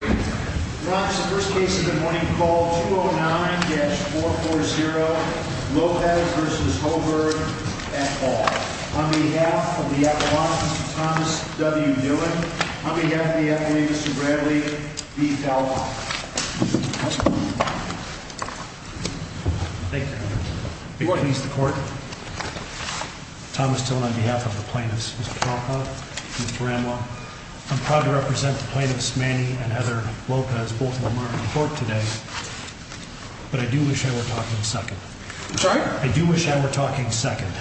Ron, this is the first case of the morning. Call 209-440 Lopez v. Hoegberg, et al. On behalf of the Epilogue, Thomas W. Dillon. On behalf of the Epilogue, Mr. Bradley v. Talbot. Thank you, Your Honor. Please, the Court. Thomas Dillon, on behalf of the plaintiffs, Mr. Talbot and Mr. Ramlaw. I'm proud to represent the plaintiffs, Manny and Heather Lopez, both of them are in court today. But I do wish I were talking second. I'm sorry? I do wish I were talking second.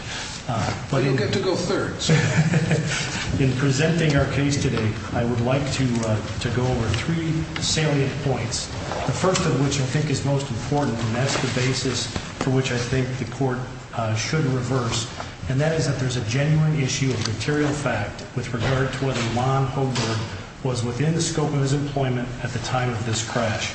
But you'll get to go third, so. In presenting our case today, I would like to go over three salient points. The first of which I think is most important, and that's the basis for which I think the Court should reverse. And that is that there's a genuine issue of material fact with regard to whether Ron Hoegberg was within the scope of his employment at the time of this crash.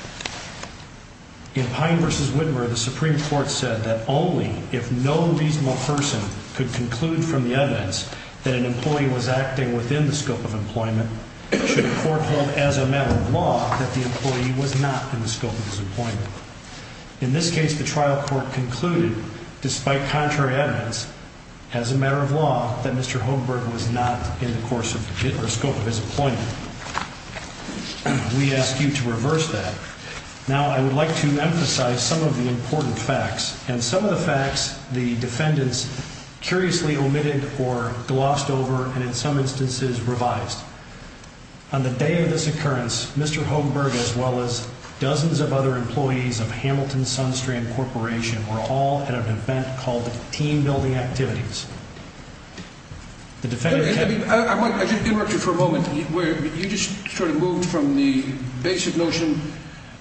In Pine v. Widmer, the Supreme Court said that only if no reasonable person could conclude from the evidence that an employee was acting within the scope of employment, should the Court hold as a matter of law that the employee was not in the scope of his employment. In this case, the trial court concluded, despite contrary evidence, as a matter of law, that Mr. Hoegberg was not in the scope of his employment. We ask you to reverse that. Now, I would like to emphasize some of the important facts. And some of the facts the defendants curiously omitted or glossed over, and in some instances, revised. On the day of this occurrence, Mr. Hoegberg, as well as dozens of other employees of Hamilton Sunstream Corporation, were all at an event called Team Building Activities. The defendants... Let me interrupt you for a moment. You just sort of moved from the basic notion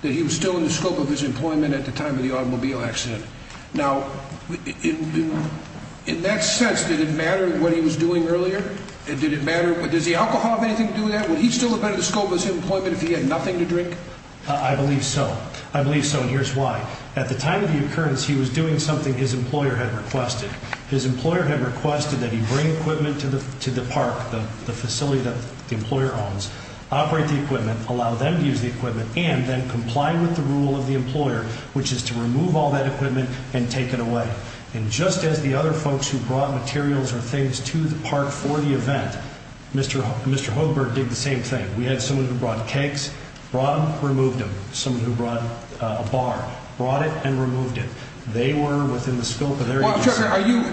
that he was still in the scope of his employment at the time of the automobile accident. Now, in that sense, did it matter what he was doing earlier? Did it matter? Does the alcohol have anything to do with that? Would he still have been in the scope of his employment if he had nothing to drink? I believe so. I believe so, and here's why. At the time of the occurrence, he was doing something his employer had requested. His employer had requested that he bring equipment to the park, the facility that the employer owns, operate the equipment, allow them to use the equipment, and then comply with the rule of the employer, which is to remove all that equipment and take it away. And just as the other folks who brought materials or things to the park for the event, Mr. Hoegberg did the same thing. We had someone who brought cakes, brought them, removed them. Someone who brought a bar, brought it, and removed it. They were within the scope of their... Well, Chuck, are you...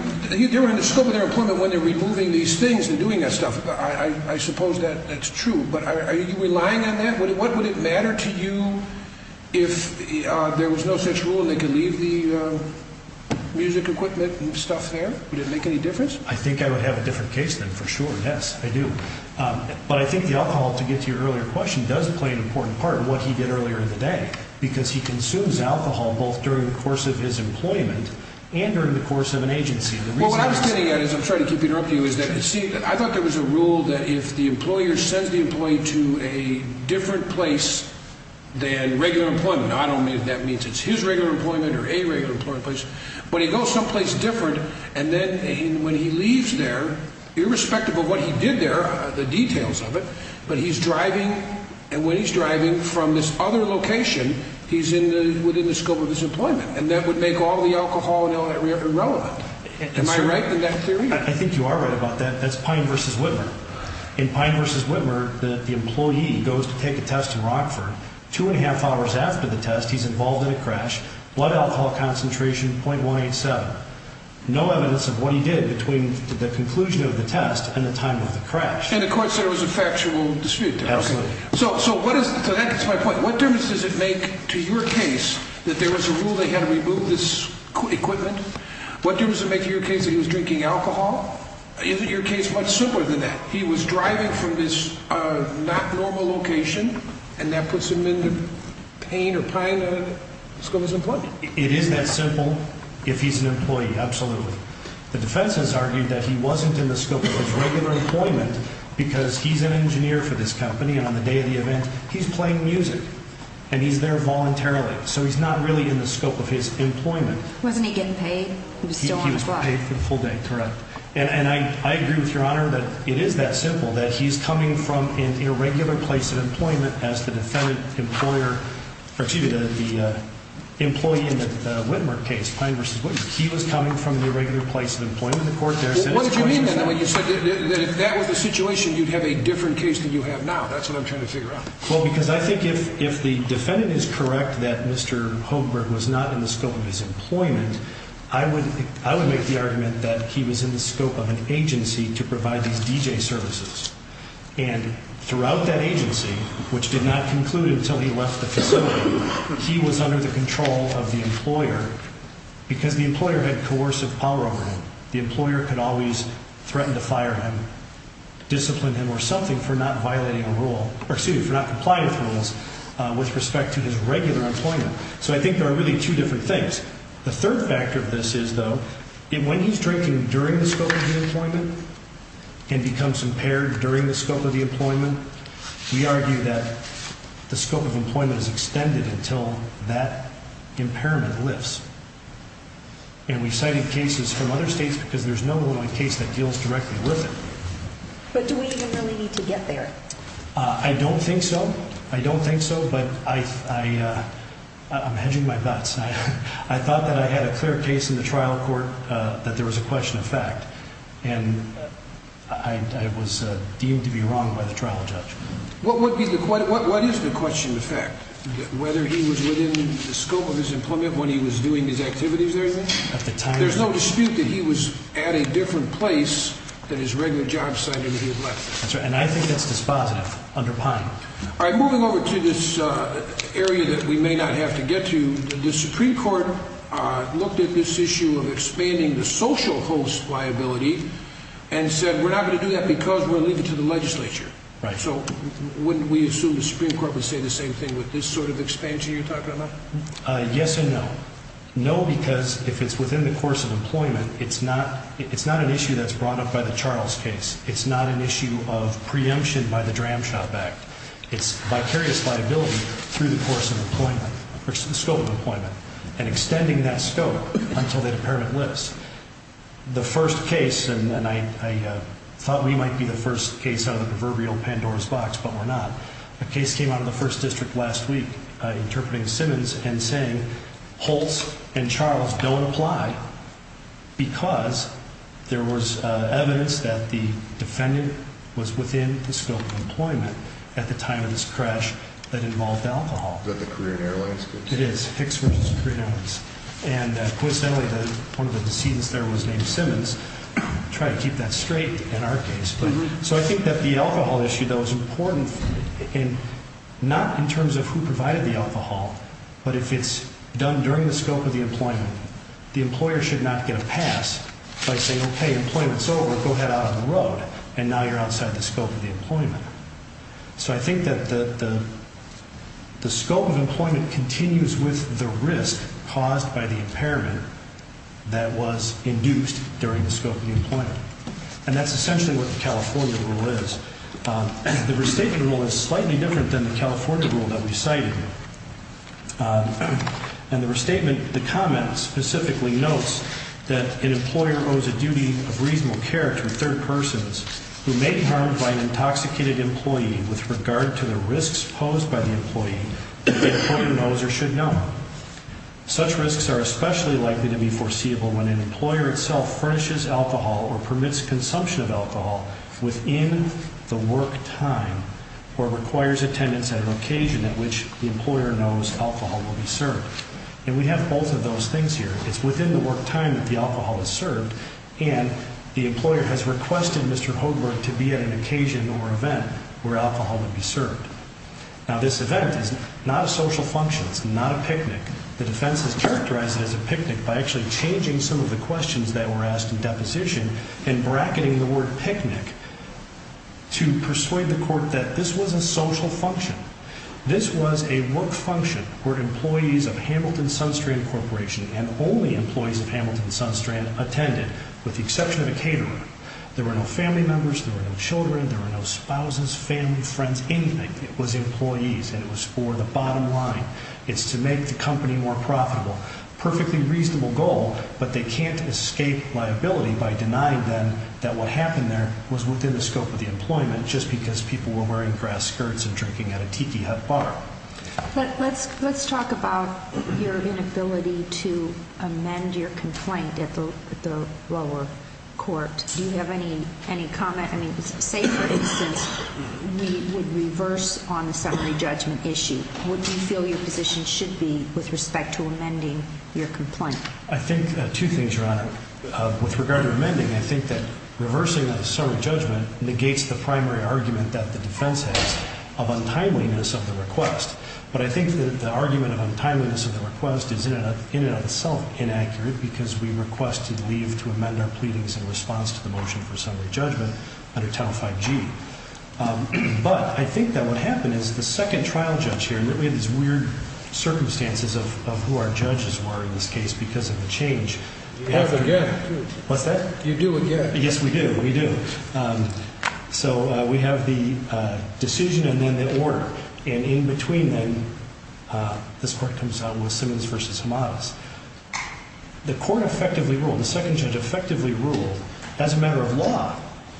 They were in the scope of their employment when they were removing these things and doing that stuff. I suppose that's true, but are you relying on that? What would it matter to you if there was no such rule and they could leave the music equipment and stuff there? Would it make any difference? I think I would have a different case than for sure, yes, I do. But I think the alcohol, to get to your earlier question, does play an important part in what he did earlier in the day because he consumes alcohol both during the course of his employment and during the course of an agency. Well, what I was getting at is, I'm sorry to keep interrupting you, is that I thought there was a rule that if the employer sends the employee to a different place than regular employment, not only does that mean it's his regular employment or a regular employment place, but he goes someplace different, and then when he leaves there, irrespective of what he did there, the details of it, but he's driving, and when he's driving from this other location, he's within the scope of his employment, and that would make all the alcohol and all that irrelevant. Am I right in that theory? I think you are right about that. That's Pine v. Whitmer. In Pine v. Whitmer, the employee goes to take a test in Rockford. Two and a half hours after the test, he's involved in a crash. Blood alcohol concentration, .187. No evidence of what he did between the conclusion of the test and the time of the crash. And the court said it was a factual dispute. Absolutely. So that gets to my point. What difference does it make to your case that there was a rule that he had to remove this equipment? What difference does it make to your case that he was drinking alcohol? Is it your case much simpler than that? He was driving from this not normal location, and that puts him in pain or pain in the scope of his employment. It is that simple if he's an employee, absolutely. The defense has argued that he wasn't in the scope of his regular employment because he's an engineer for this company, and on the day of the event, he's playing music, and he's there voluntarily, so he's not really in the scope of his employment. Wasn't he getting paid? He was still on the project. He was paid the full day, correct. And I agree with Your Honor that it is that simple, that he's coming from an irregular place of employment as the defendant employer, or excuse me, the employee in the Whitmer case, Pine v. Wooten. He was coming from the irregular place of employment. The court there said it was a situation. What did you mean then when you said that if that was the situation, you'd have a different case than you have now? That's what I'm trying to figure out. Well, because I think if the defendant is correct that Mr. Holmberg was not in the scope of his employment, I would make the argument that he was in the scope of an agency to provide these DJ services, and throughout that agency, which did not conclude until he left the facility, he was under the control of the employer because the employer had coercive power over him. The employer could always threaten to fire him, discipline him or something for not violating a rule or, excuse me, for not complying with rules with respect to his regular employment. So I think there are really two different things. The third factor of this is, though, when he's drinking during the scope of the employment and becomes impaired during the scope of the employment, we argue that the scope of employment is extended until that impairment lifts. And we've cited cases from other states because there's no one case that deals directly with it. But do we even really need to get there? I don't think so. I don't think so, but I'm hedging my bets. I thought that I had a clear case in the trial court that there was a question of fact, and I was deemed to be wrong by the trial judge. What is the question of fact? Whether he was within the scope of his employment when he was doing his activities or anything? There's no dispute that he was at a different place than his regular job site when he had left. And I think that's dispositive under Pine. All right, moving over to this area that we may not have to get to, the Supreme Court looked at this issue of expanding the social host liability and said we're not going to do that because we're leaving it to the legislature. Right. So wouldn't we assume the Supreme Court would say the same thing with this sort of expansion you're talking about? Yes and no. No because if it's within the course of employment, it's not an issue that's brought up by the Charles case. It's not an issue of preemption by the Dram Shop Act. It's vicarious liability through the course of employment, the scope of employment, and extending that scope until the impairment lifts. The first case, and I thought we might be the first case out of the proverbial Pandora's box, but we're not. A case came out of the first district last week interpreting Simmons and saying, Holtz and Charles don't apply because there was evidence that the defendant was within the scope of employment at the time of this crash that involved alcohol. Is that the Korean Airlines case? It is, Hicks v. Korean Airlines. And coincidentally, one of the decedents there was named Simmons. Try to keep that straight in our case. So I think that the alcohol issue, though, is important not in terms of who provided the alcohol, but if it's done during the scope of the employment, the employer should not get a pass by saying, Okay, employment's over, go head out on the road, and now you're outside the scope of the employment. So I think that the scope of employment continues with the risk caused by the impairment that was induced during the scope of the employment. And that's essentially what the California rule is. The restatement rule is slightly different than the California rule that we cited. In the restatement, the comment specifically notes that an employer owes a duty of reasonable care to a third person who may be harmed by an intoxicated employee with regard to the risks posed by the employee that the employer knows or should know. Such risks are especially likely to be foreseeable when an employer itself furnishes alcohol or permits consumption of alcohol within the work time or requires attendance at an occasion at which the employer knows alcohol will be served. And we have both of those things here. It's within the work time that the alcohol is served, and the employer has requested Mr. Hoberg to be at an occasion or event where alcohol would be served. Now this event is not a social function. It's not a picnic. The defense has characterized it as a picnic by actually changing some of the questions that were asked in deposition and bracketing the word picnic to persuade the court that this was a social function. This was a work function where employees of Hamilton-Sunstrand Corporation and only employees of Hamilton-Sunstrand attended, with the exception of a caterer. There were no family members, there were no children, there were no spouses, family, friends, anything. It was employees, and it was for the bottom line. It's to make the company more profitable. Perfectly reasonable goal, but they can't escape liability by denying them that what happened there was within the scope of the employment just because people were wearing grass skirts and drinking at a tiki hut bar. Let's talk about your inability to amend your complaint at the lower court. Do you have any comment? Say, for instance, we would reverse on the summary judgment issue. What do you feel your position should be with respect to amending your complaint? I think two things, Your Honor. With regard to amending, I think that reversing a summary judgment negates the primary argument that the defense has of untimeliness of the request. But I think that the argument of untimeliness of the request is in and of itself inaccurate because we requested leave to amend our pleadings in response to the motion for summary judgment under Title 5G. But I think that what happened is the second trial judge here, and we had these weird circumstances of who our judges were in this case because of the change. You have again. What's that? You do again. Yes, we do. We do. So we have the decision and then the order. And in between them, this court comes out with Simmons v. Hamadas. The court effectively ruled, the second judge effectively ruled, as a matter of law,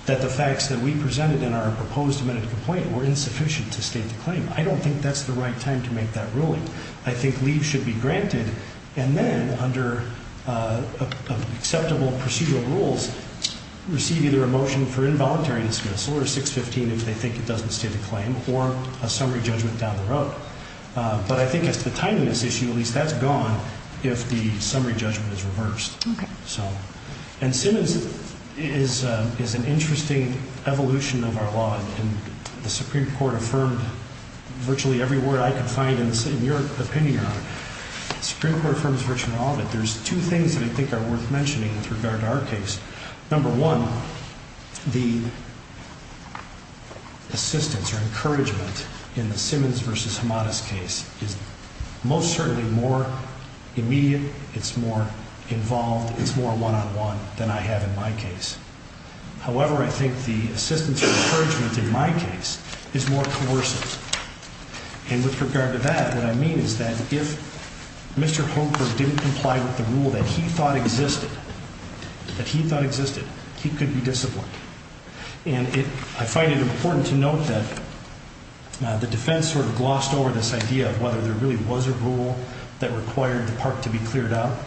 that the facts that we presented in our proposed amended complaint were insufficient to state the claim. I don't think that's the right time to make that ruling. I think leave should be granted. And then under acceptable procedural rules, receive either a motion for involuntary dismissal or a 615 if they think it doesn't state the claim or a summary judgment down the road. But I think as to the timeliness issue, at least that's gone if the summary judgment is reversed. Okay. And Simmons is an interesting evolution of our law, and the Supreme Court affirmed virtually every word I could find in your opinion on it. The Supreme Court affirms virtually all of it. There's two things that I think are worth mentioning with regard to our case. Number one, the assistance or encouragement in the Simmons v. Hamadas case is most certainly more immediate, it's more involved, it's more one-on-one than I have in my case. However, I think the assistance or encouragement in my case is more coercive. And with regard to that, what I mean is that if Mr. Holker didn't comply with the rule that he thought existed, that he thought existed, he could be disciplined. And I find it important to note that the defense sort of glossed over this idea of whether there really was a rule that required the park to be cleared out,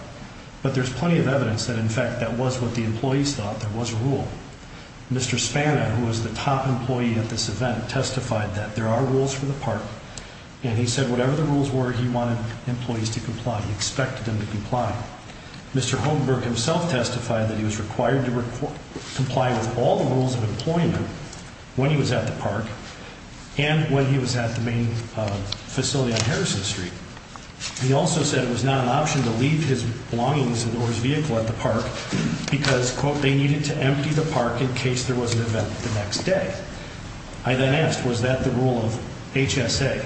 but there's plenty of evidence that, in fact, that was what the employees thought, there was a rule. Mr. Spana, who was the top employee at this event, testified that there are rules for the park, and he said whatever the rules were, he wanted employees to comply, he expected them to comply. Mr. Holmberg himself testified that he was required to comply with all the rules of employment when he was at the park, and when he was at the main facility on Harrison Street. He also said it was not an option to leave his belongings or his vehicle at the park because, quote, they needed to empty the park in case there was an event the next day. I then asked, was that the rule of HSA,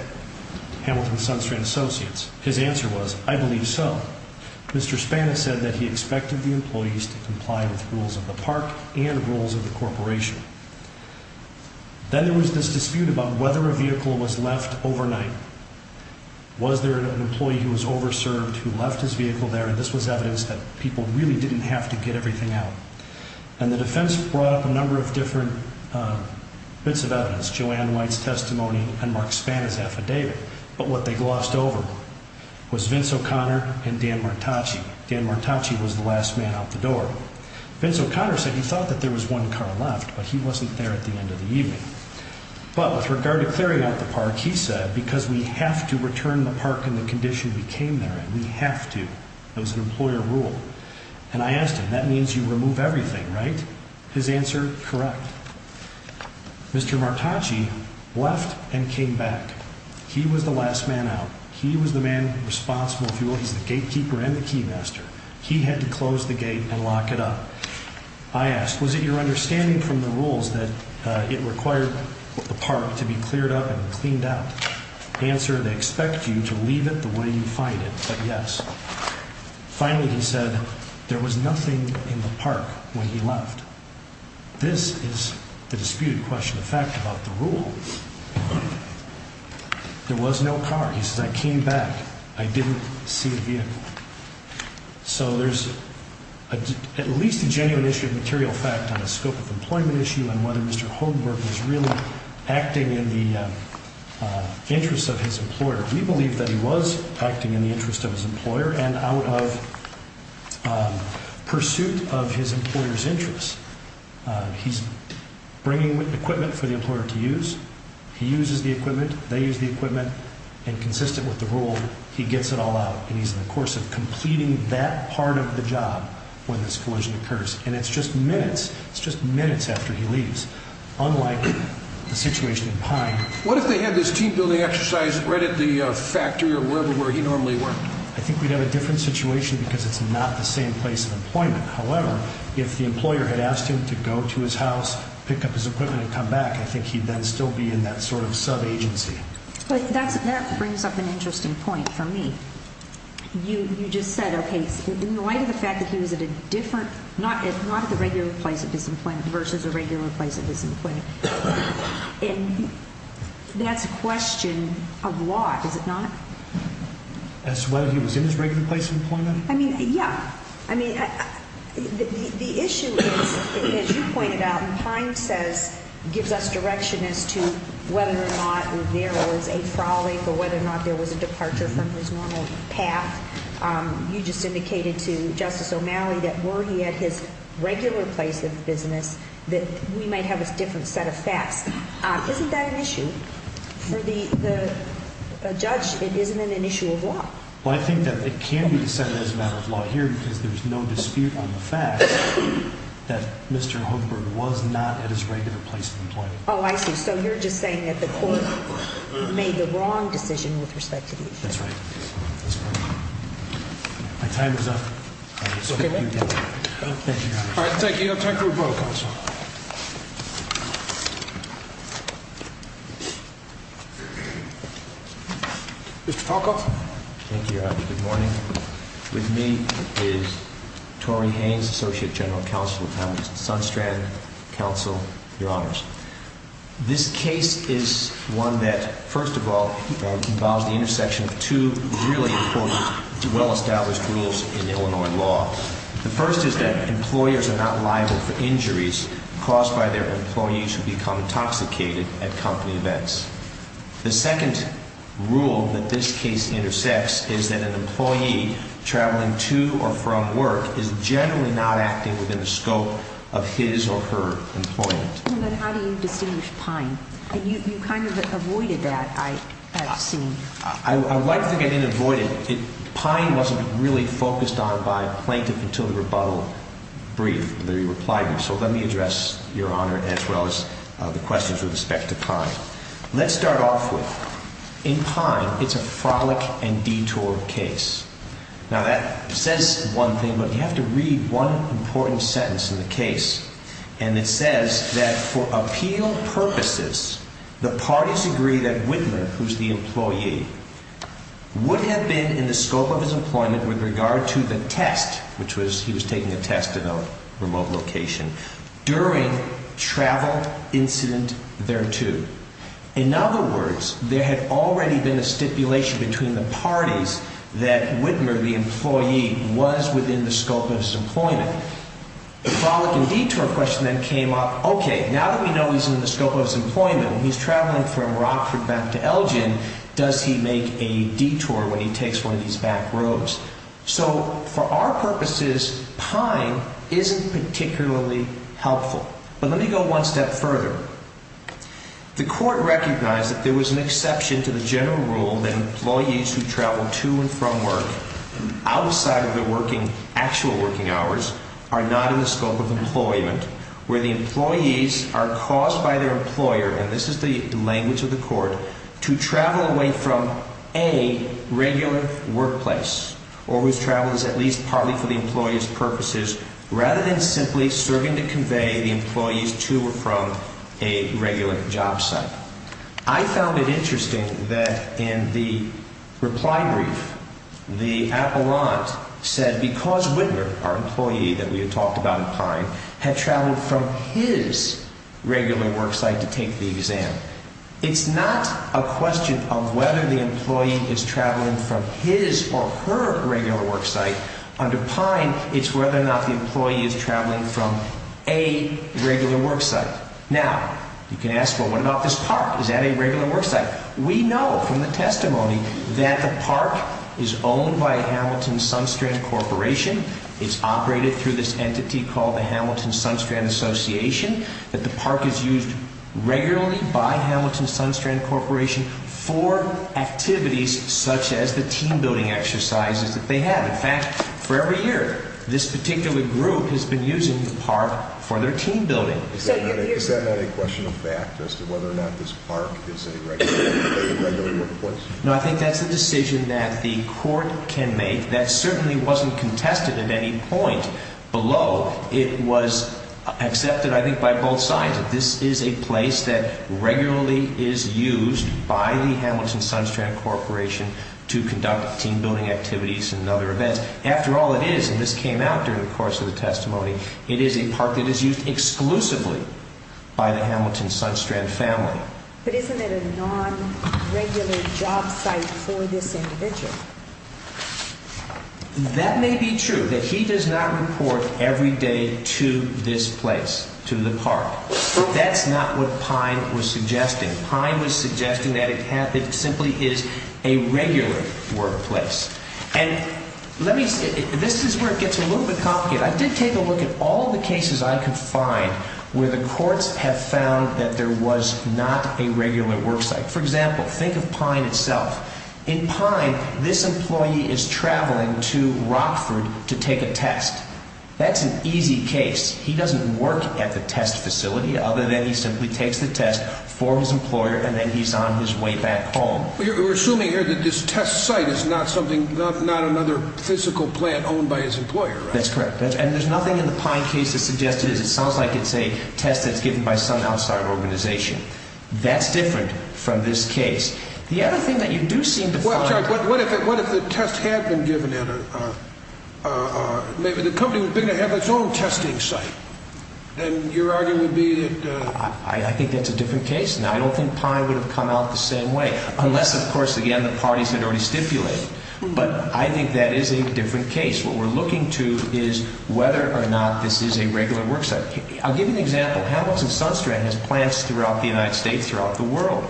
Hamilton Sunstrand Associates? His answer was, I believe so. Mr. Spana said that he expected the employees to comply with rules of the park and rules of the corporation. Then there was this dispute about whether a vehicle was left overnight. Was there an employee who was over-served who left his vehicle there, and this was evidence that people really didn't have to get everything out. And the defense brought up a number of different bits of evidence, Joanne White's testimony and Mark Spana's affidavit, but what they glossed over was Vince O'Connor and Dan Martacci. Dan Martacci was the last man out the door. Vince O'Connor said he thought that there was one car left, but he wasn't there at the end of the evening. But with regard to clearing out the park, he said, because we have to return the park in the condition we came there in. We have to. It was an employer rule. And I asked him, that means you remove everything, right? His answer, correct. Mr. Martacci left and came back. He was the last man out. He was the man responsible, if you will. He's the gatekeeper and the key master. He had to close the gate and lock it up. I asked, was it your understanding from the rules that it required the park to be cleared up and cleaned out? Answer, they expect you to leave it the way you find it, but yes. Finally, he said, there was nothing in the park when he left. This is the disputed question of fact about the rule. There was no car. He says, I came back. I didn't see a vehicle. So there's at least a genuine issue of material fact on the scope of employment issue and whether Mr. Holmberg was really acting in the interest of his employer. We believe that he was acting in the interest of his employer and out of pursuit of his employer's interest. He's bringing equipment for the employer to use. They use the equipment. And consistent with the rule, he gets it all out. And he's in the course of completing that part of the job when this collision occurs. And it's just minutes. It's just minutes after he leaves. Unlike the situation in Pine. What if they had this team-building exercise right at the factory or wherever he normally worked? I think we'd have a different situation because it's not the same place of employment. However, if the employer had asked him to go to his house, pick up his equipment and come back, I think he'd then still be in that sort of sub-agency. That brings up an interesting point for me. You just said, okay, in light of the fact that he was at a different, not at the regular place of his employment versus a regular place of his employment. And that's a question of law, is it not? As to whether he was in his regular place of employment? I mean, yeah. I mean, the issue is, as you pointed out, when Pine says, gives us direction as to whether or not there was a frolic or whether or not there was a departure from his normal path, you just indicated to Justice O'Malley that were he at his regular place of business, that we might have a different set of facts. Isn't that an issue? For the judge, it isn't an issue of law. Well, I think that it can be the same as a matter of law here because there's no dispute on the fact that Mr. Hochberg was not at his regular place of employment. Oh, I see. So you're just saying that the court made the wrong decision with respect to the issue. That's right. My time is up. All right, thank you. I'll turn it over to the counsel. Mr. Talcott. Thank you, Your Honor. Good morning. With me is Tori Haynes, Associate General Counsel at Sunstrand Counsel, Your Honors. This case is one that, first of all, involves the intersection of two really important, well-established rules in Illinois law. The first is that employers are not liable for injuries caused by their employees who become intoxicated at company events. The second rule that this case intersects is that an employee traveling to or from work is generally not acting within the scope of his or her employment. Well, then how do you distinguish Pine? You kind of avoided that, I've seen. I would like to think I didn't avoid it. Pine wasn't really focused on by a plaintiff until the rebuttal brief, the reply brief. So let me address, Your Honor, as well as the questions with respect to Pine. Let's start off with, in Pine, it's a frolic and detour case. Now that says one thing, but you have to read one important sentence in the case, and it says that for appeal purposes, the parties agree that Whitman, who's the employee, would have been in the scope of his employment with regard to the test, which was he was taking a test in a remote location, during travel incident thereto. In other words, there had already been a stipulation between the parties that Whitman, the employee, was within the scope of his employment. The frolic and detour question then came up, okay, now that we know he's in the scope of his employment, he's traveling from Rockford back to Elgin, does he make a detour when he takes one of these back roads? So for our purposes, Pine isn't particularly helpful. But let me go one step further. The court recognized that there was an exception to the general rule that employees who travel to and from work outside of their actual working hours are not in the scope of employment, where the employees are caused by their employer, and this is the language of the court, to travel away from a regular workplace, or whose travel is at least partly for the employee's purposes, rather than simply serving to convey the employees to or from a regular job site. I found it interesting that in the reply brief, the appellant said because Whitman, our employee that we had talked about in Pine, had traveled from his regular work site to take the exam, it's not a question of whether the employee is traveling from his or her regular work site. Under Pine, it's whether or not the employee is traveling from a regular work site. Now, you can ask, well, what about this park? Is that a regular work site? We know from the testimony that the park is owned by Hamilton Sunstrand Corporation. It's operated through this entity called the Hamilton Sunstrand Association, that the park is used regularly by Hamilton Sunstrand Corporation for activities such as the team building exercises that they have. In fact, for every year, this particular group has been using the park for their team building. Is that not a question of fact as to whether or not this park is a regular workplace? No, I think that's a decision that the court can make. That certainly wasn't contested at any point. Below, it was accepted, I think, by both sides. This is a place that regularly is used by the Hamilton Sunstrand Corporation to conduct team building activities and other events. After all, it is, and this came out during the course of the testimony, it is a park that is used exclusively by the Hamilton Sunstrand family. But isn't it a non-regular job site for this individual? That may be true, that he does not report every day to this place, to the park. That's not what Pine was suggesting. Pine was suggesting that it simply is a regular workplace. And let me say, this is where it gets a little bit complicated. I did take a look at all the cases I could find where the courts have found that there was not a regular work site. For example, think of Pine itself. In Pine, this employee is traveling to Rockford to take a test. That's an easy case. He doesn't work at the test facility, other than he simply takes the test for his employer and then he's on his way back home. We're assuming here that this test site is not another physical plant owned by his employer, right? That's correct. And there's nothing in the Pine case that suggests it is. It sounds like it's a test that's given by some outside organization. That's different from this case. The other thing that you do seem to find... Well, I'm sorry, what if the test had been given at a... maybe the company was going to have its own testing site? Then your argument would be that... I think that's a different case. Now, I don't think Pine would have come out the same way, unless, of course, again, the parties had already stipulated. But I think that is a different case. What we're looking to is whether or not this is a regular work site. I'll give you an example. Hamilton Sunstrand has plants throughout the United States, throughout the world.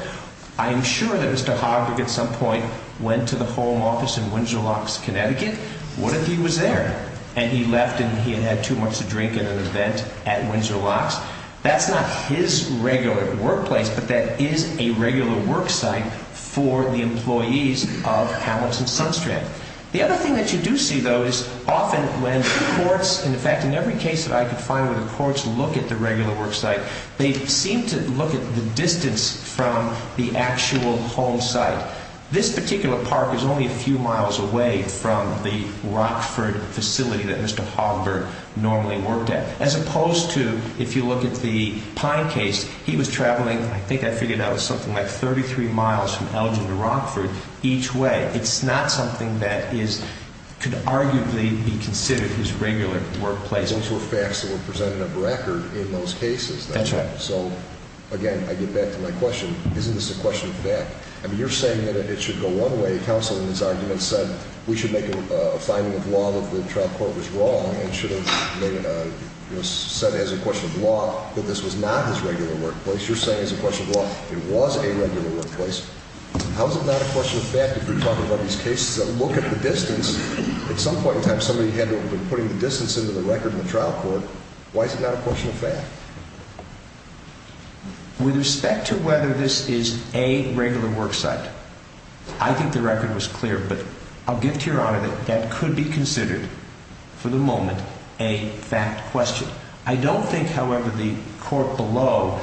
I'm sure that Mr. Hogg, at some point, went to the home office in Windsor Locks, Connecticut. What if he was there and he left and he had had too much to drink at an event at Windsor Locks? That's not his regular workplace, but that is a regular work site for the employees of Hamilton Sunstrand. The other thing that you do see, though, is often when courts... In fact, in every case that I could find where the courts look at the regular work site, they seem to look at the distance from the actual home site. This particular park is only a few miles away from the Rockford facility that Mr. Hogg normally worked at. As opposed to, if you look at the Pine case, he was traveling, I think I figured out, something like 33 miles from Elgin to Rockford each way. It's not something that could arguably be considered his regular workplace. Those were facts that were presented on record in those cases. That's right. So, again, I get back to my question. Isn't this a question of fact? I mean, you're saying that it should go one way. We should make a finding of law that the trial court was wrong and should have said as a question of law that this was not his regular workplace. You're saying as a question of law it was a regular workplace. How is it not a question of fact if you're talking about these cases that look at the distance? At some point in time, somebody had been putting the distance into the record in the trial court. Why is it not a question of fact? With respect to whether this is a regular work site, I think the record was clear, but I'll give to Your Honor that that could be considered, for the moment, a fact question. I don't think, however, the court below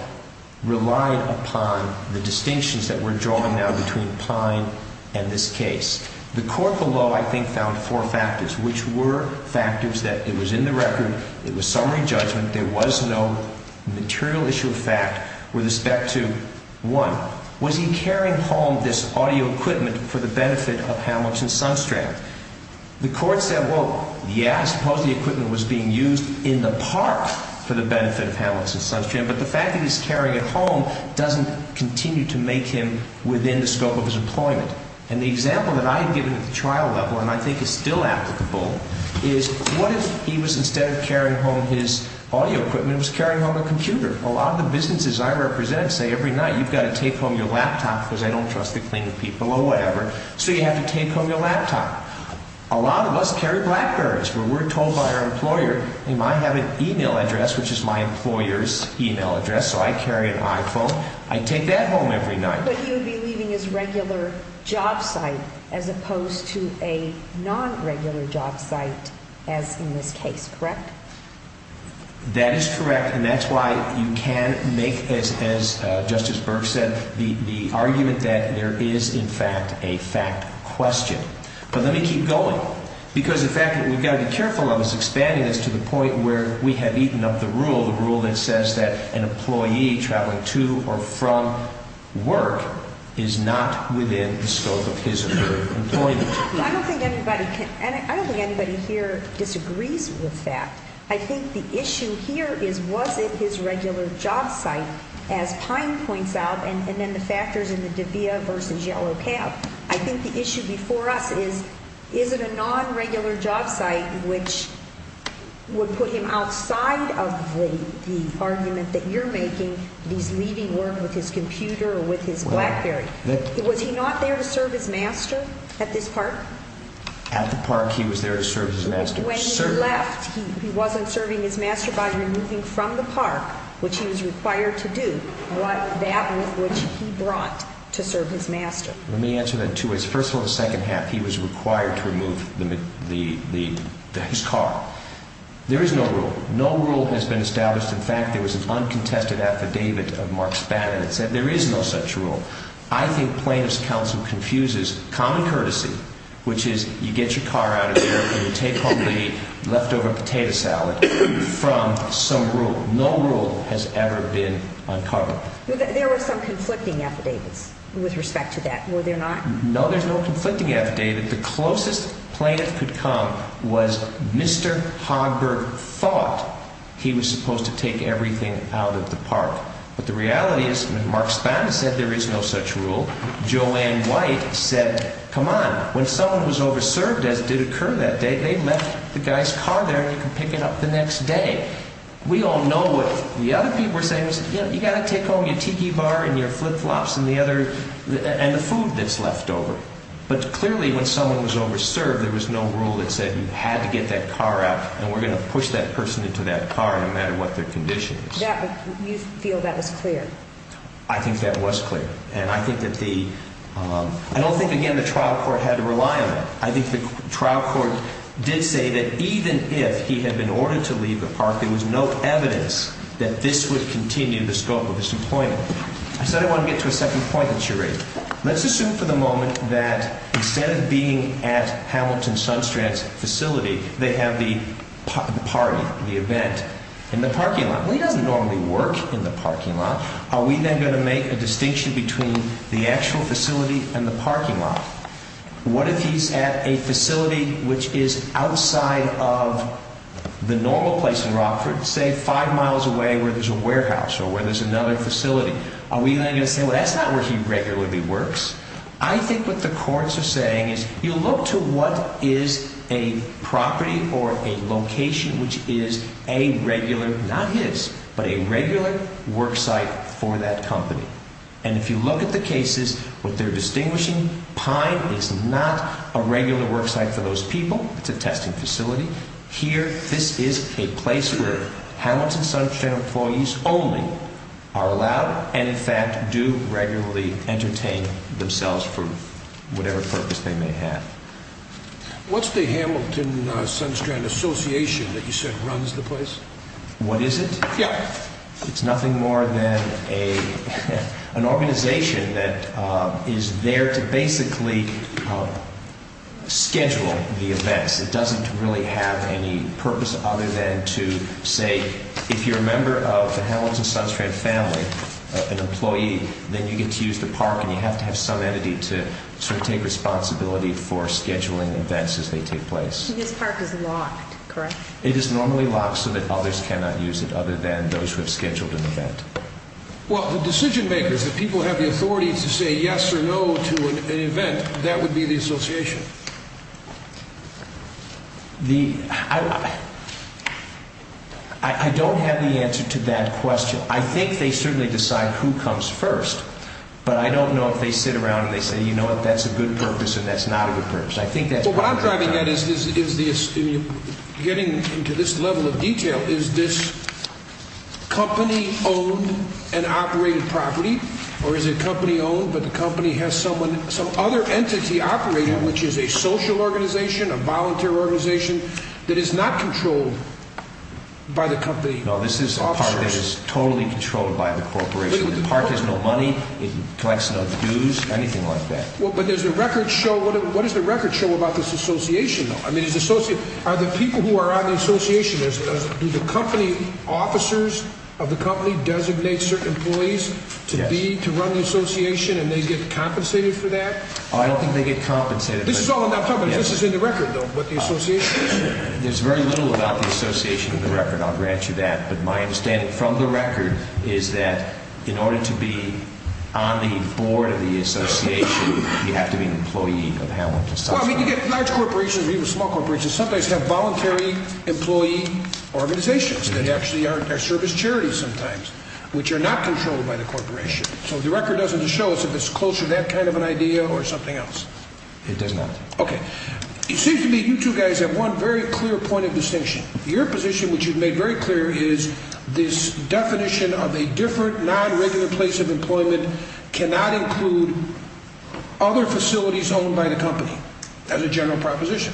relied upon the distinctions that we're drawing now between Pine and this case. The court below, I think, found four factors, which were factors that it was in the record, it was summary judgment, there was no material issue of fact. With respect to, one, was he carrying home this audio equipment for the benefit of Hamlix and Sunstrand? The court said, well, yeah, I suppose the equipment was being used in the park for the benefit of Hamlix and Sunstrand, but the fact that he's carrying it home doesn't continue to make him within the scope of his employment. And the example that I had given at the trial level, and I think is still applicable, is what if he was, instead of carrying home his audio equipment, he was carrying home a computer? A lot of the businesses I represent say every night, you've got to take home your laptop, because I don't trust the cleaning people or whatever, so you have to take home your laptop. A lot of us carry BlackBerrys, but we're told by our employer, they might have an email address, which is my employer's email address, so I carry an iPhone. I take that home every night. But he would be leaving his regular job site, as opposed to a non-regular job site, as in this case, correct? That is correct, and that's why you can make, as Justice Burke said, the argument that there is, in fact, a fact question. But let me keep going, because the fact that we've got to be careful of is expanding this to the point where we have eaten up the rule, the rule that says that an employee traveling to or from work is not within the scope of his or her employment. I don't think anybody here disagrees with that. I think the issue here is, was it his regular job site, as Pine points out, and then the factors in the DeVia v. Yellow Cab. I think the issue before us is, is it a non-regular job site, which would put him outside of the argument that you're making that he's leaving work with his computer or with his BlackBerry? Was he not there to serve his master at this park? At the park, he was there to serve his master. When he left, he wasn't serving his master by removing from the park, which he was required to do, that with which he brought to serve his master. Let me answer that in two ways. First of all, in the second half, he was required to remove his car. There is no rule. No rule has been established. In fact, there was an uncontested affidavit of Mark Spadina that said there is no such rule. I think plaintiff's counsel confuses common courtesy, which is you get your car out of there and you take home the leftover potato salad, from some rule. No rule has ever been uncovered. There were some conflicting affidavits with respect to that, were there not? No, there's no conflicting affidavit. The closest plaintiff could come was Mr. Hogberg thought he was supposed to take everything out of the park. But the reality is Mark Spadina said there is no such rule. Joanne White said, come on. When someone was over-served, as did occur that day, they left the guy's car there and you can pick it up the next day. We all know what the other people were saying. You got to take home your tiki bar and your flip-flops and the food that's leftover. But clearly when someone was over-served, there was no rule that said you had to get that car out and we're going to push that person into that car no matter what their condition is. You feel that was clear? I think that was clear. I don't think, again, the trial court had to rely on it. I think the trial court did say that even if he had been ordered to leave the park, there was no evidence that this would continue the scope of his employment. I said I want to get to a second point that you raised. Let's assume for the moment that instead of being at Hamilton Sunstrand's facility, they have the party, the event, in the parking lot. Well, he doesn't normally work in the parking lot. Are we then going to make a distinction between the actual facility and the parking lot? What if he's at a facility which is outside of the normal place in Rockford, say five miles away where there's a warehouse or where there's another facility? Are we then going to say, well, that's not where he regularly works? I think what the courts are saying is you look to what is a property or a location which is a regular, not his, but a regular worksite for that company. And if you look at the cases, what they're distinguishing, Pine is not a regular worksite for those people. It's a testing facility. Here, this is a place where Hamilton Sunstrand employees only are allowed and, in fact, do regularly entertain themselves for whatever purpose they may have. What's the Hamilton Sunstrand Association that you said runs the place? What is it? Yeah. It's nothing more than an organization that is there to basically schedule the events. It doesn't really have any purpose other than to say if you're a member of the Hamilton Sunstrand family, an employee, then you get to use the park and you have to have some entity to sort of take responsibility for scheduling events as they take place. This park is locked, correct? It is normally locked so that others cannot use it other than those who have scheduled an event. Well, the decision-makers, the people who have the authority to say yes or no to an event, that would be the association. I don't have the answer to that question. I think they certainly decide who comes first, but I don't know if they sit around and they say, you know what, that's a good purpose and that's not a good purpose. What I'm driving at in getting into this level of detail is this company-owned and operated property, or is it company-owned but the company has some other entity operating, which is a social organization, a volunteer organization, that is not controlled by the company officers? No, this is a park that is totally controlled by the corporation. The park has no money. It collects no dues, anything like that. What does the record show about this association, though? Are the people who are on the association, do the company officers of the company designate certain employees to run the association and they get compensated for that? I don't think they get compensated. This is in the record, though, what the association is? There's very little about the association in the record, I'll grant you that, but my understanding from the record is that in order to be on the board of the association, you have to be an employee of Hamlet. Well, I mean, you get large corporations, even small corporations, sometimes have voluntary employee organizations that actually are service charities sometimes, which are not controlled by the corporation. So the record doesn't show us if it's close to that kind of an idea or something else. It does not. Okay. It seems to me you two guys have one very clear point of distinction. Your position, which you've made very clear, is this definition of a different, non-regular place of employment cannot include other facilities owned by the company. That's a general proposition.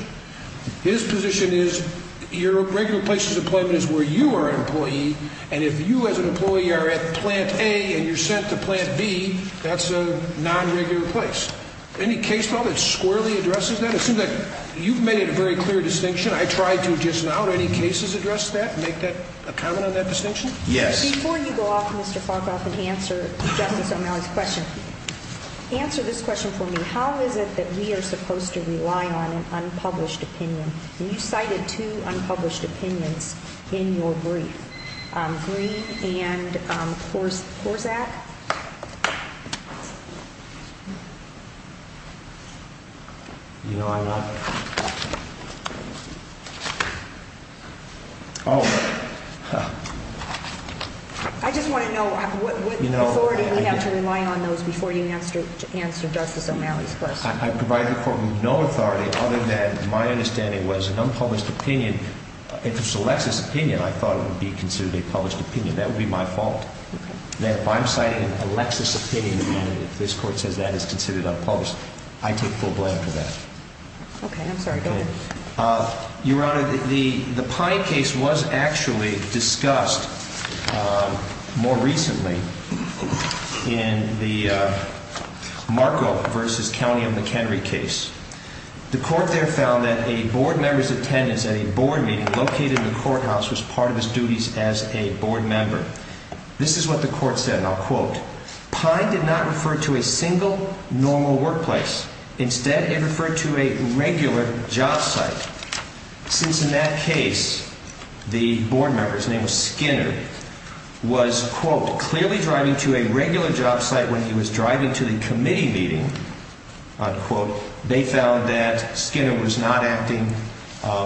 His position is your regular place of employment is where you are an employee, and if you as an employee are at plant A and you're sent to plant B, that's a non-regular place. Any case file that squarely addresses that? Assume that you've made a very clear distinction. I tried to just now. Do any cases address that, make a comment on that distinction? Yes. Before you go off, Mr. Farkoff, and answer Justice O'Malley's question, answer this question for me. How is it that we are supposed to rely on an unpublished opinion? You cited two unpublished opinions in your brief. Green and Korczak. You know I'm not. Oh. I just want to know what authority we have to rely on those before you answer Justice O'Malley's question. I provide the Court with no authority other than my understanding was an unpublished opinion. If it's a Lexis opinion, I thought it would be considered a published opinion. That would be my fault. If I'm citing a Lexis opinion and this Court says that is considered unpublished, I take full blame for that. Okay. I'm sorry. Go ahead. Your Honor, the Pine case was actually discussed more recently in the Marco v. County of McHenry case. The Court there found that a board member's attendance at a board meeting located in the courthouse was part of his duties as a board member. This is what the Court said, and I'll quote. Pine did not refer to a single normal workplace. Instead, it referred to a regular job site. Since in that case, the board member's name was Skinner, was, quote, clearly driving to a regular job site when he was driving to the committee meeting, unquote. They found that Skinner was not acting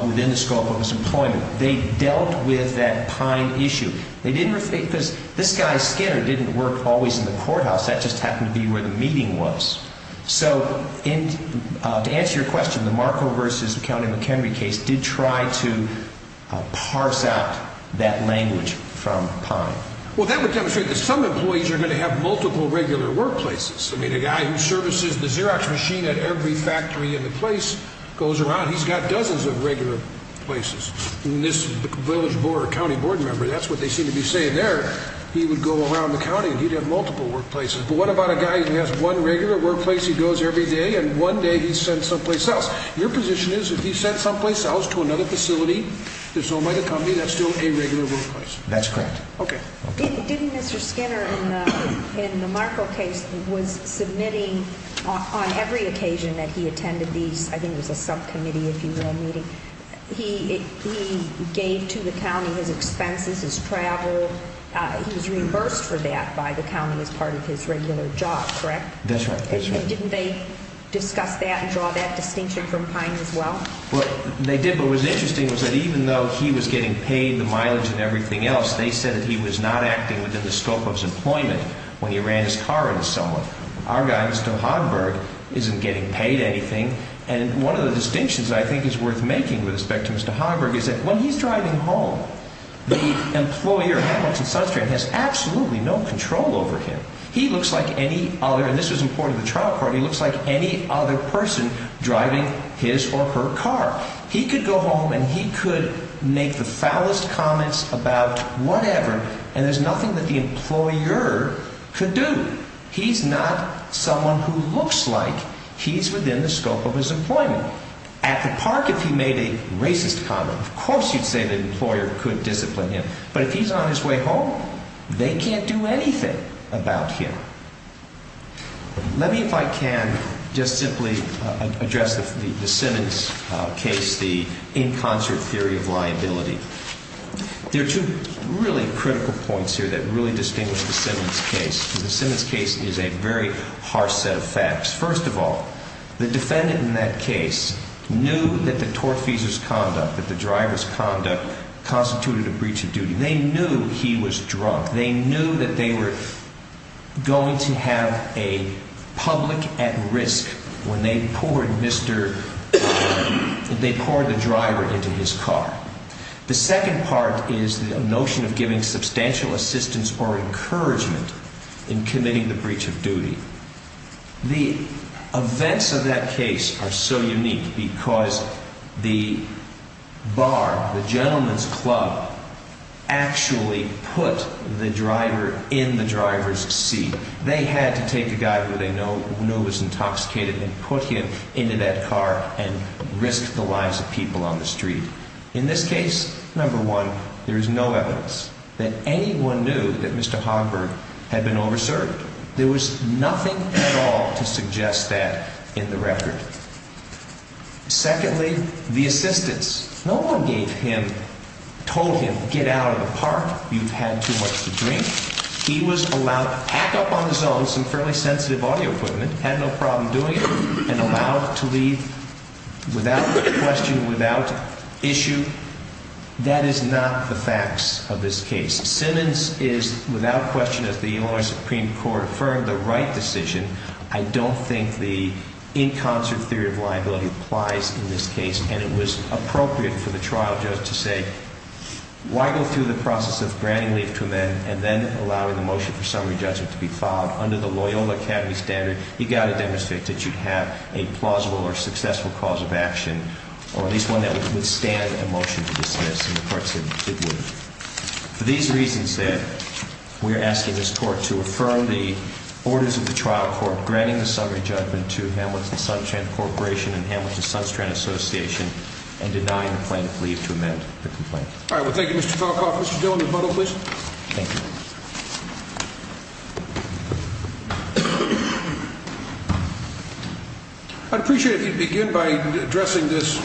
within the scope of his employment. They dealt with that Pine issue. This guy Skinner didn't work always in the courthouse. That just happened to be where the meeting was. So to answer your question, the Marco v. County of McHenry case did try to parse out that language from Pine. Well, that would demonstrate that some employees are going to have multiple regular workplaces. I mean, a guy who services the Xerox machine at every factory in the place goes around. He's got dozens of regular places. And this village board or county board member, that's what they seem to be saying there, he would go around the county and he'd have multiple workplaces. But what about a guy who has one regular workplace, he goes every day, and one day he's sent someplace else? Your position is if he's sent someplace else to another facility that's owned by the company, that's still a regular workplace. That's correct. Okay. Didn't Mr. Skinner in the Marco case was submitting on every occasion that he attended these, I think it was a subcommittee, if you will, meeting. He gave to the county his expenses, his travel. He was reimbursed for that by the county as part of his regular job, correct? That's right. And didn't they discuss that and draw that distinction from Pine as well? They did, but what was interesting was that even though he was getting paid the mileage and everything else, they said that he was not acting within the scope of his employment when he ran his car into someone. Our guy, Mr. Hogberg, isn't getting paid anything. And one of the distinctions I think is worth making with respect to Mr. Hogberg is that when he's driving home, the employer at Hamilton Sunstream has absolutely no control over him. He looks like any other, and this was important in the trial court, he looks like any other person driving his or her car. He could go home and he could make the foulest comments about whatever, and there's nothing that the employer could do. He's not someone who looks like he's within the scope of his employment. At the park, if he made a racist comment, of course you'd say the employer could discipline him. But if he's on his way home, they can't do anything about him. Let me, if I can, just simply address the Simmons case, the in concert theory of liability. There are two really critical points here that really distinguish the Simmons case. The Simmons case is a very harsh set of facts. First of all, the defendant in that case knew that the tortfeasor's conduct, that the driver's conduct, constituted a breach of duty. They knew he was drunk. They knew that they were going to have a public at risk when they poured the driver into his car. The second part is the notion of giving substantial assistance or encouragement in committing the breach of duty. The events of that case are so unique because the bar, the gentleman's club, actually put the driver in the driver's seat. They had to take a guy who they knew was intoxicated and put him into that car and risk the lives of people on the street. In this case, number one, there is no evidence that anyone knew that Mr. Hogberg had been over-served. There was nothing at all to suggest that in the record. Secondly, the assistance. No one gave him, told him, get out of the park. You've had too much to drink. He was allowed to pack up on his own some fairly sensitive audio equipment, had no problem doing it, and allowed to leave without question, without issue. That is not the facts of this case. Simmons is, without question, as the Illinois Supreme Court affirmed, the right decision. I don't think the in concert theory of liability applies in this case, and it was appropriate for the trial judge to say, why go through the process of granting leave to a man and then allowing the motion for summary judgment to be filed under the Loyola Academy standard? You've got to demonstrate that you have a plausible or successful cause of action, or at least one that would withstand a motion to dismiss, and the court said it would. For these reasons, then, we are asking this court to affirm the orders of the trial court granting the summary judgment to Hamlet and Sunstrand Corporation and Hamlet and Sunstrand Association, and denying the plaintiff leave to amend the complaint. All right, well, thank you, Mr. Falcoff. Mr. Dillon, rebuttal, please. Thank you. I'd appreciate it if you'd begin by addressing this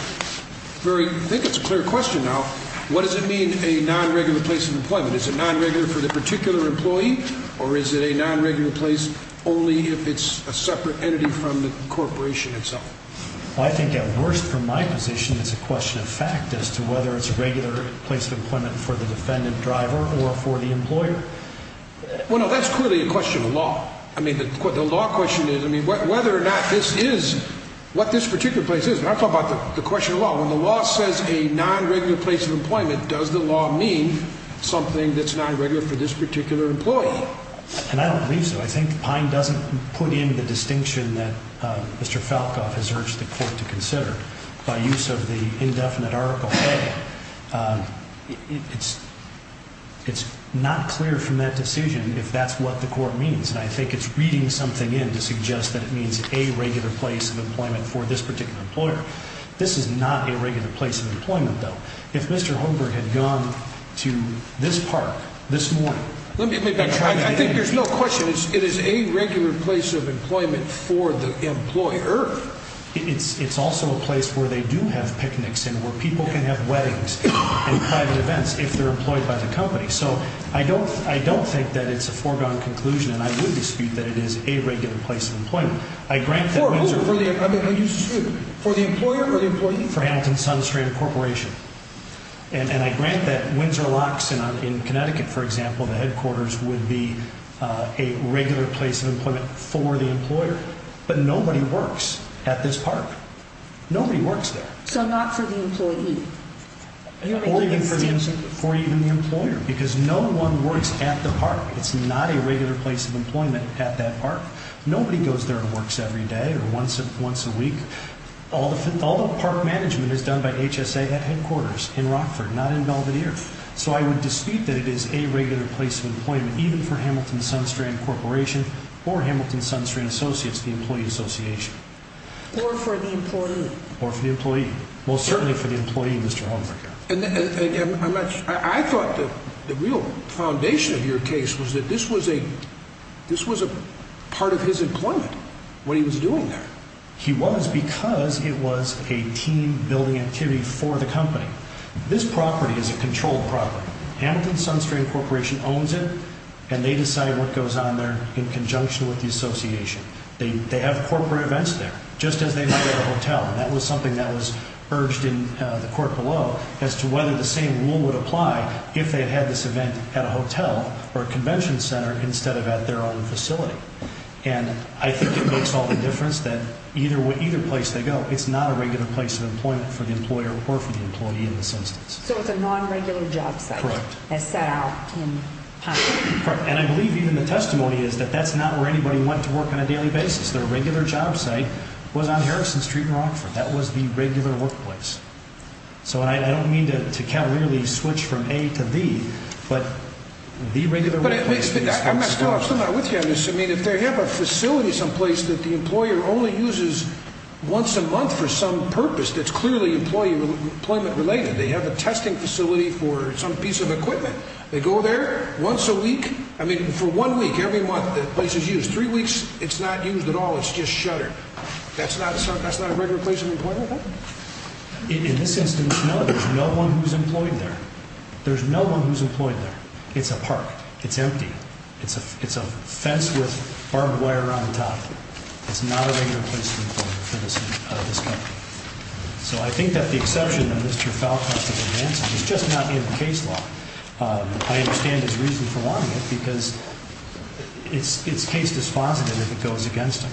very, I think it's a clear question now, what does it mean, a non-regular place of employment? Is it non-regular for the particular employee, or is it a non-regular place only if it's a separate entity from the corporation itself? Well, I think at worst, from my position, it's a question of fact as to whether it's a regular place of employment for the defendant driver or for the employer. Well, no, that's clearly a question of law. I mean, the law question is, I mean, whether or not this is what this particular place is. When I talk about the question of law, when the law says a non-regular place of employment, does the law mean something that's non-regular for this particular employee? And I don't believe so. I think Pine doesn't put in the distinction that Mr. Falcoff has urged the court to consider. By use of the indefinite article A, it's not clear from that decision if that's what the court means. And I think it's reading something in to suggest that it means a regular place of employment for this particular employer. This is not a regular place of employment, though. If Mr. Homer had gone to this park this morning. I think there's no question. It is a regular place of employment for the employer. It's also a place where they do have picnics and where people can have weddings and private events if they're employed by the company. So I don't think that it's a foregone conclusion, and I would dispute that it is a regular place of employment. For whom? For the employer or the employee? For Hamilton Sunstrand Corporation. And I grant that Windsor Locks in Connecticut, for example, the headquarters, would be a regular place of employment for the employer. But nobody works at this park. Nobody works there. So not for the employee. Or even for the employer, because no one works at the park. It's not a regular place of employment at that park. Nobody goes there and works every day or once a week. All the park management is done by HSA headquarters in Rockford, not in Belvedere. So I would dispute that it is a regular place of employment, even for Hamilton Sunstrand Corporation or Hamilton Sunstrand Associates, the employee association. Or for the employee. Or for the employee. Well, certainly for the employee, Mr. Homer. I thought the real foundation of your case was that this was a part of his employment when he was doing that. He was because it was a team-building activity for the company. This property is a controlled property. Hamilton Sunstrand Corporation owns it, and they decide what goes on there in conjunction with the association. They have corporate events there, just as they might have a hotel. That was something that was urged in the court below as to whether the same rule would apply if they had this event at a hotel or a convention center instead of at their own facility. And I think it makes all the difference that either place they go, it's not a regular place of employment for the employer or for the employee in this instance. So it's a non-regular job site. Correct. As set out in Pine. Correct. And I believe even the testimony is that that's not where anybody went to work on a daily basis. Their regular job site was on Harrison Street in Rockford. That was the regular workplace. So I don't mean to cavalierly switch from A to B, but the regular workplace. But I'm not still with you on this. I mean, if they have a facility someplace that the employer only uses once a month for some purpose that's clearly employment-related, they have a testing facility for some piece of equipment. They go there once a week. I mean, for one week, every month the place is used. Three weeks, it's not used at all. It's just shuttered. That's not a regular place of employment? In this instance, no. There's no one who's employed there. There's no one who's employed there. It's a park. It's empty. It's a fence with barbed wire around the top. It's not a regular place of employment for this company. So I think that the exception of Mr. Falcone's advancement is just not in the case law. I understand his reason for wanting it because it's case dispositive if it goes against him.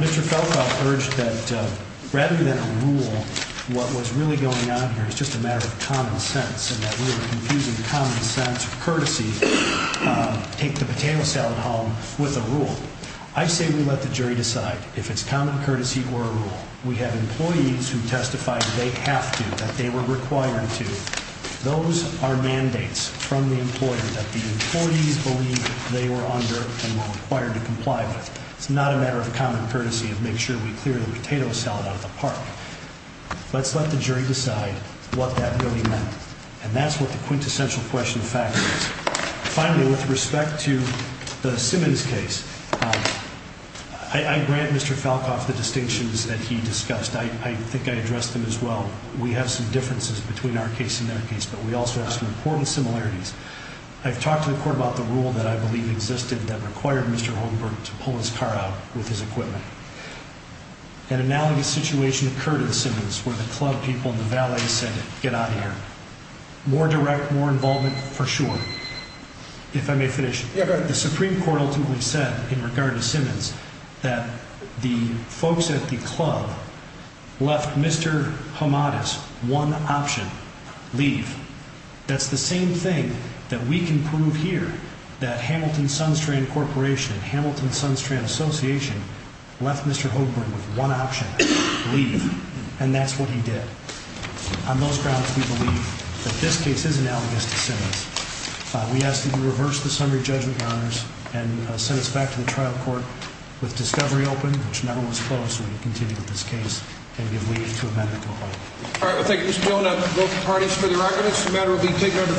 Mr. Falcone urged that rather than a rule, what was really going on here is just a matter of common sense and that we were confusing common sense or courtesy, take the potato salad home with a rule. I say we let the jury decide if it's common courtesy or a rule. We have employees who testify that they have to, that they were required to. Those are mandates from the employer that the employees believe they were under and were required to comply with. It's not a matter of common courtesy of make sure we clear the potato salad out of the park. Let's let the jury decide what that really meant. And that's what the quintessential question of fact is. Finally, with respect to the Simmons case, I grant Mr. Falcone the distinctions that he discussed. I think I addressed them as well. We have some differences between our case and their case, but we also have some important similarities. I've talked to the court about the rule that I believe existed that required Mr. Holmberg to pull his car out with his equipment. An analogous situation occurred in Simmons where the club people in the valley said, get out of here. More direct, more involvement for sure. If I may finish, the Supreme Court ultimately said in regard to Simmons that the folks at the club left Mr. Hamada's one option, leave. That's the same thing that we can prove here that Hamilton Sunstrand Corporation and Hamilton Sunstrand Association left Mr. Holmberg with one option, leave. And that's what he did. On those grounds, we believe that this case is analogous to Simmons. We ask that you reverse the summary judgment, Your Honors, and send us back to the trial court with discovery open, which never was closed. We continue with this case and give leave to amend the complaint. All right. Thank you, Mr. Jonah. Both parties for the record. This matter will be taken under consideration.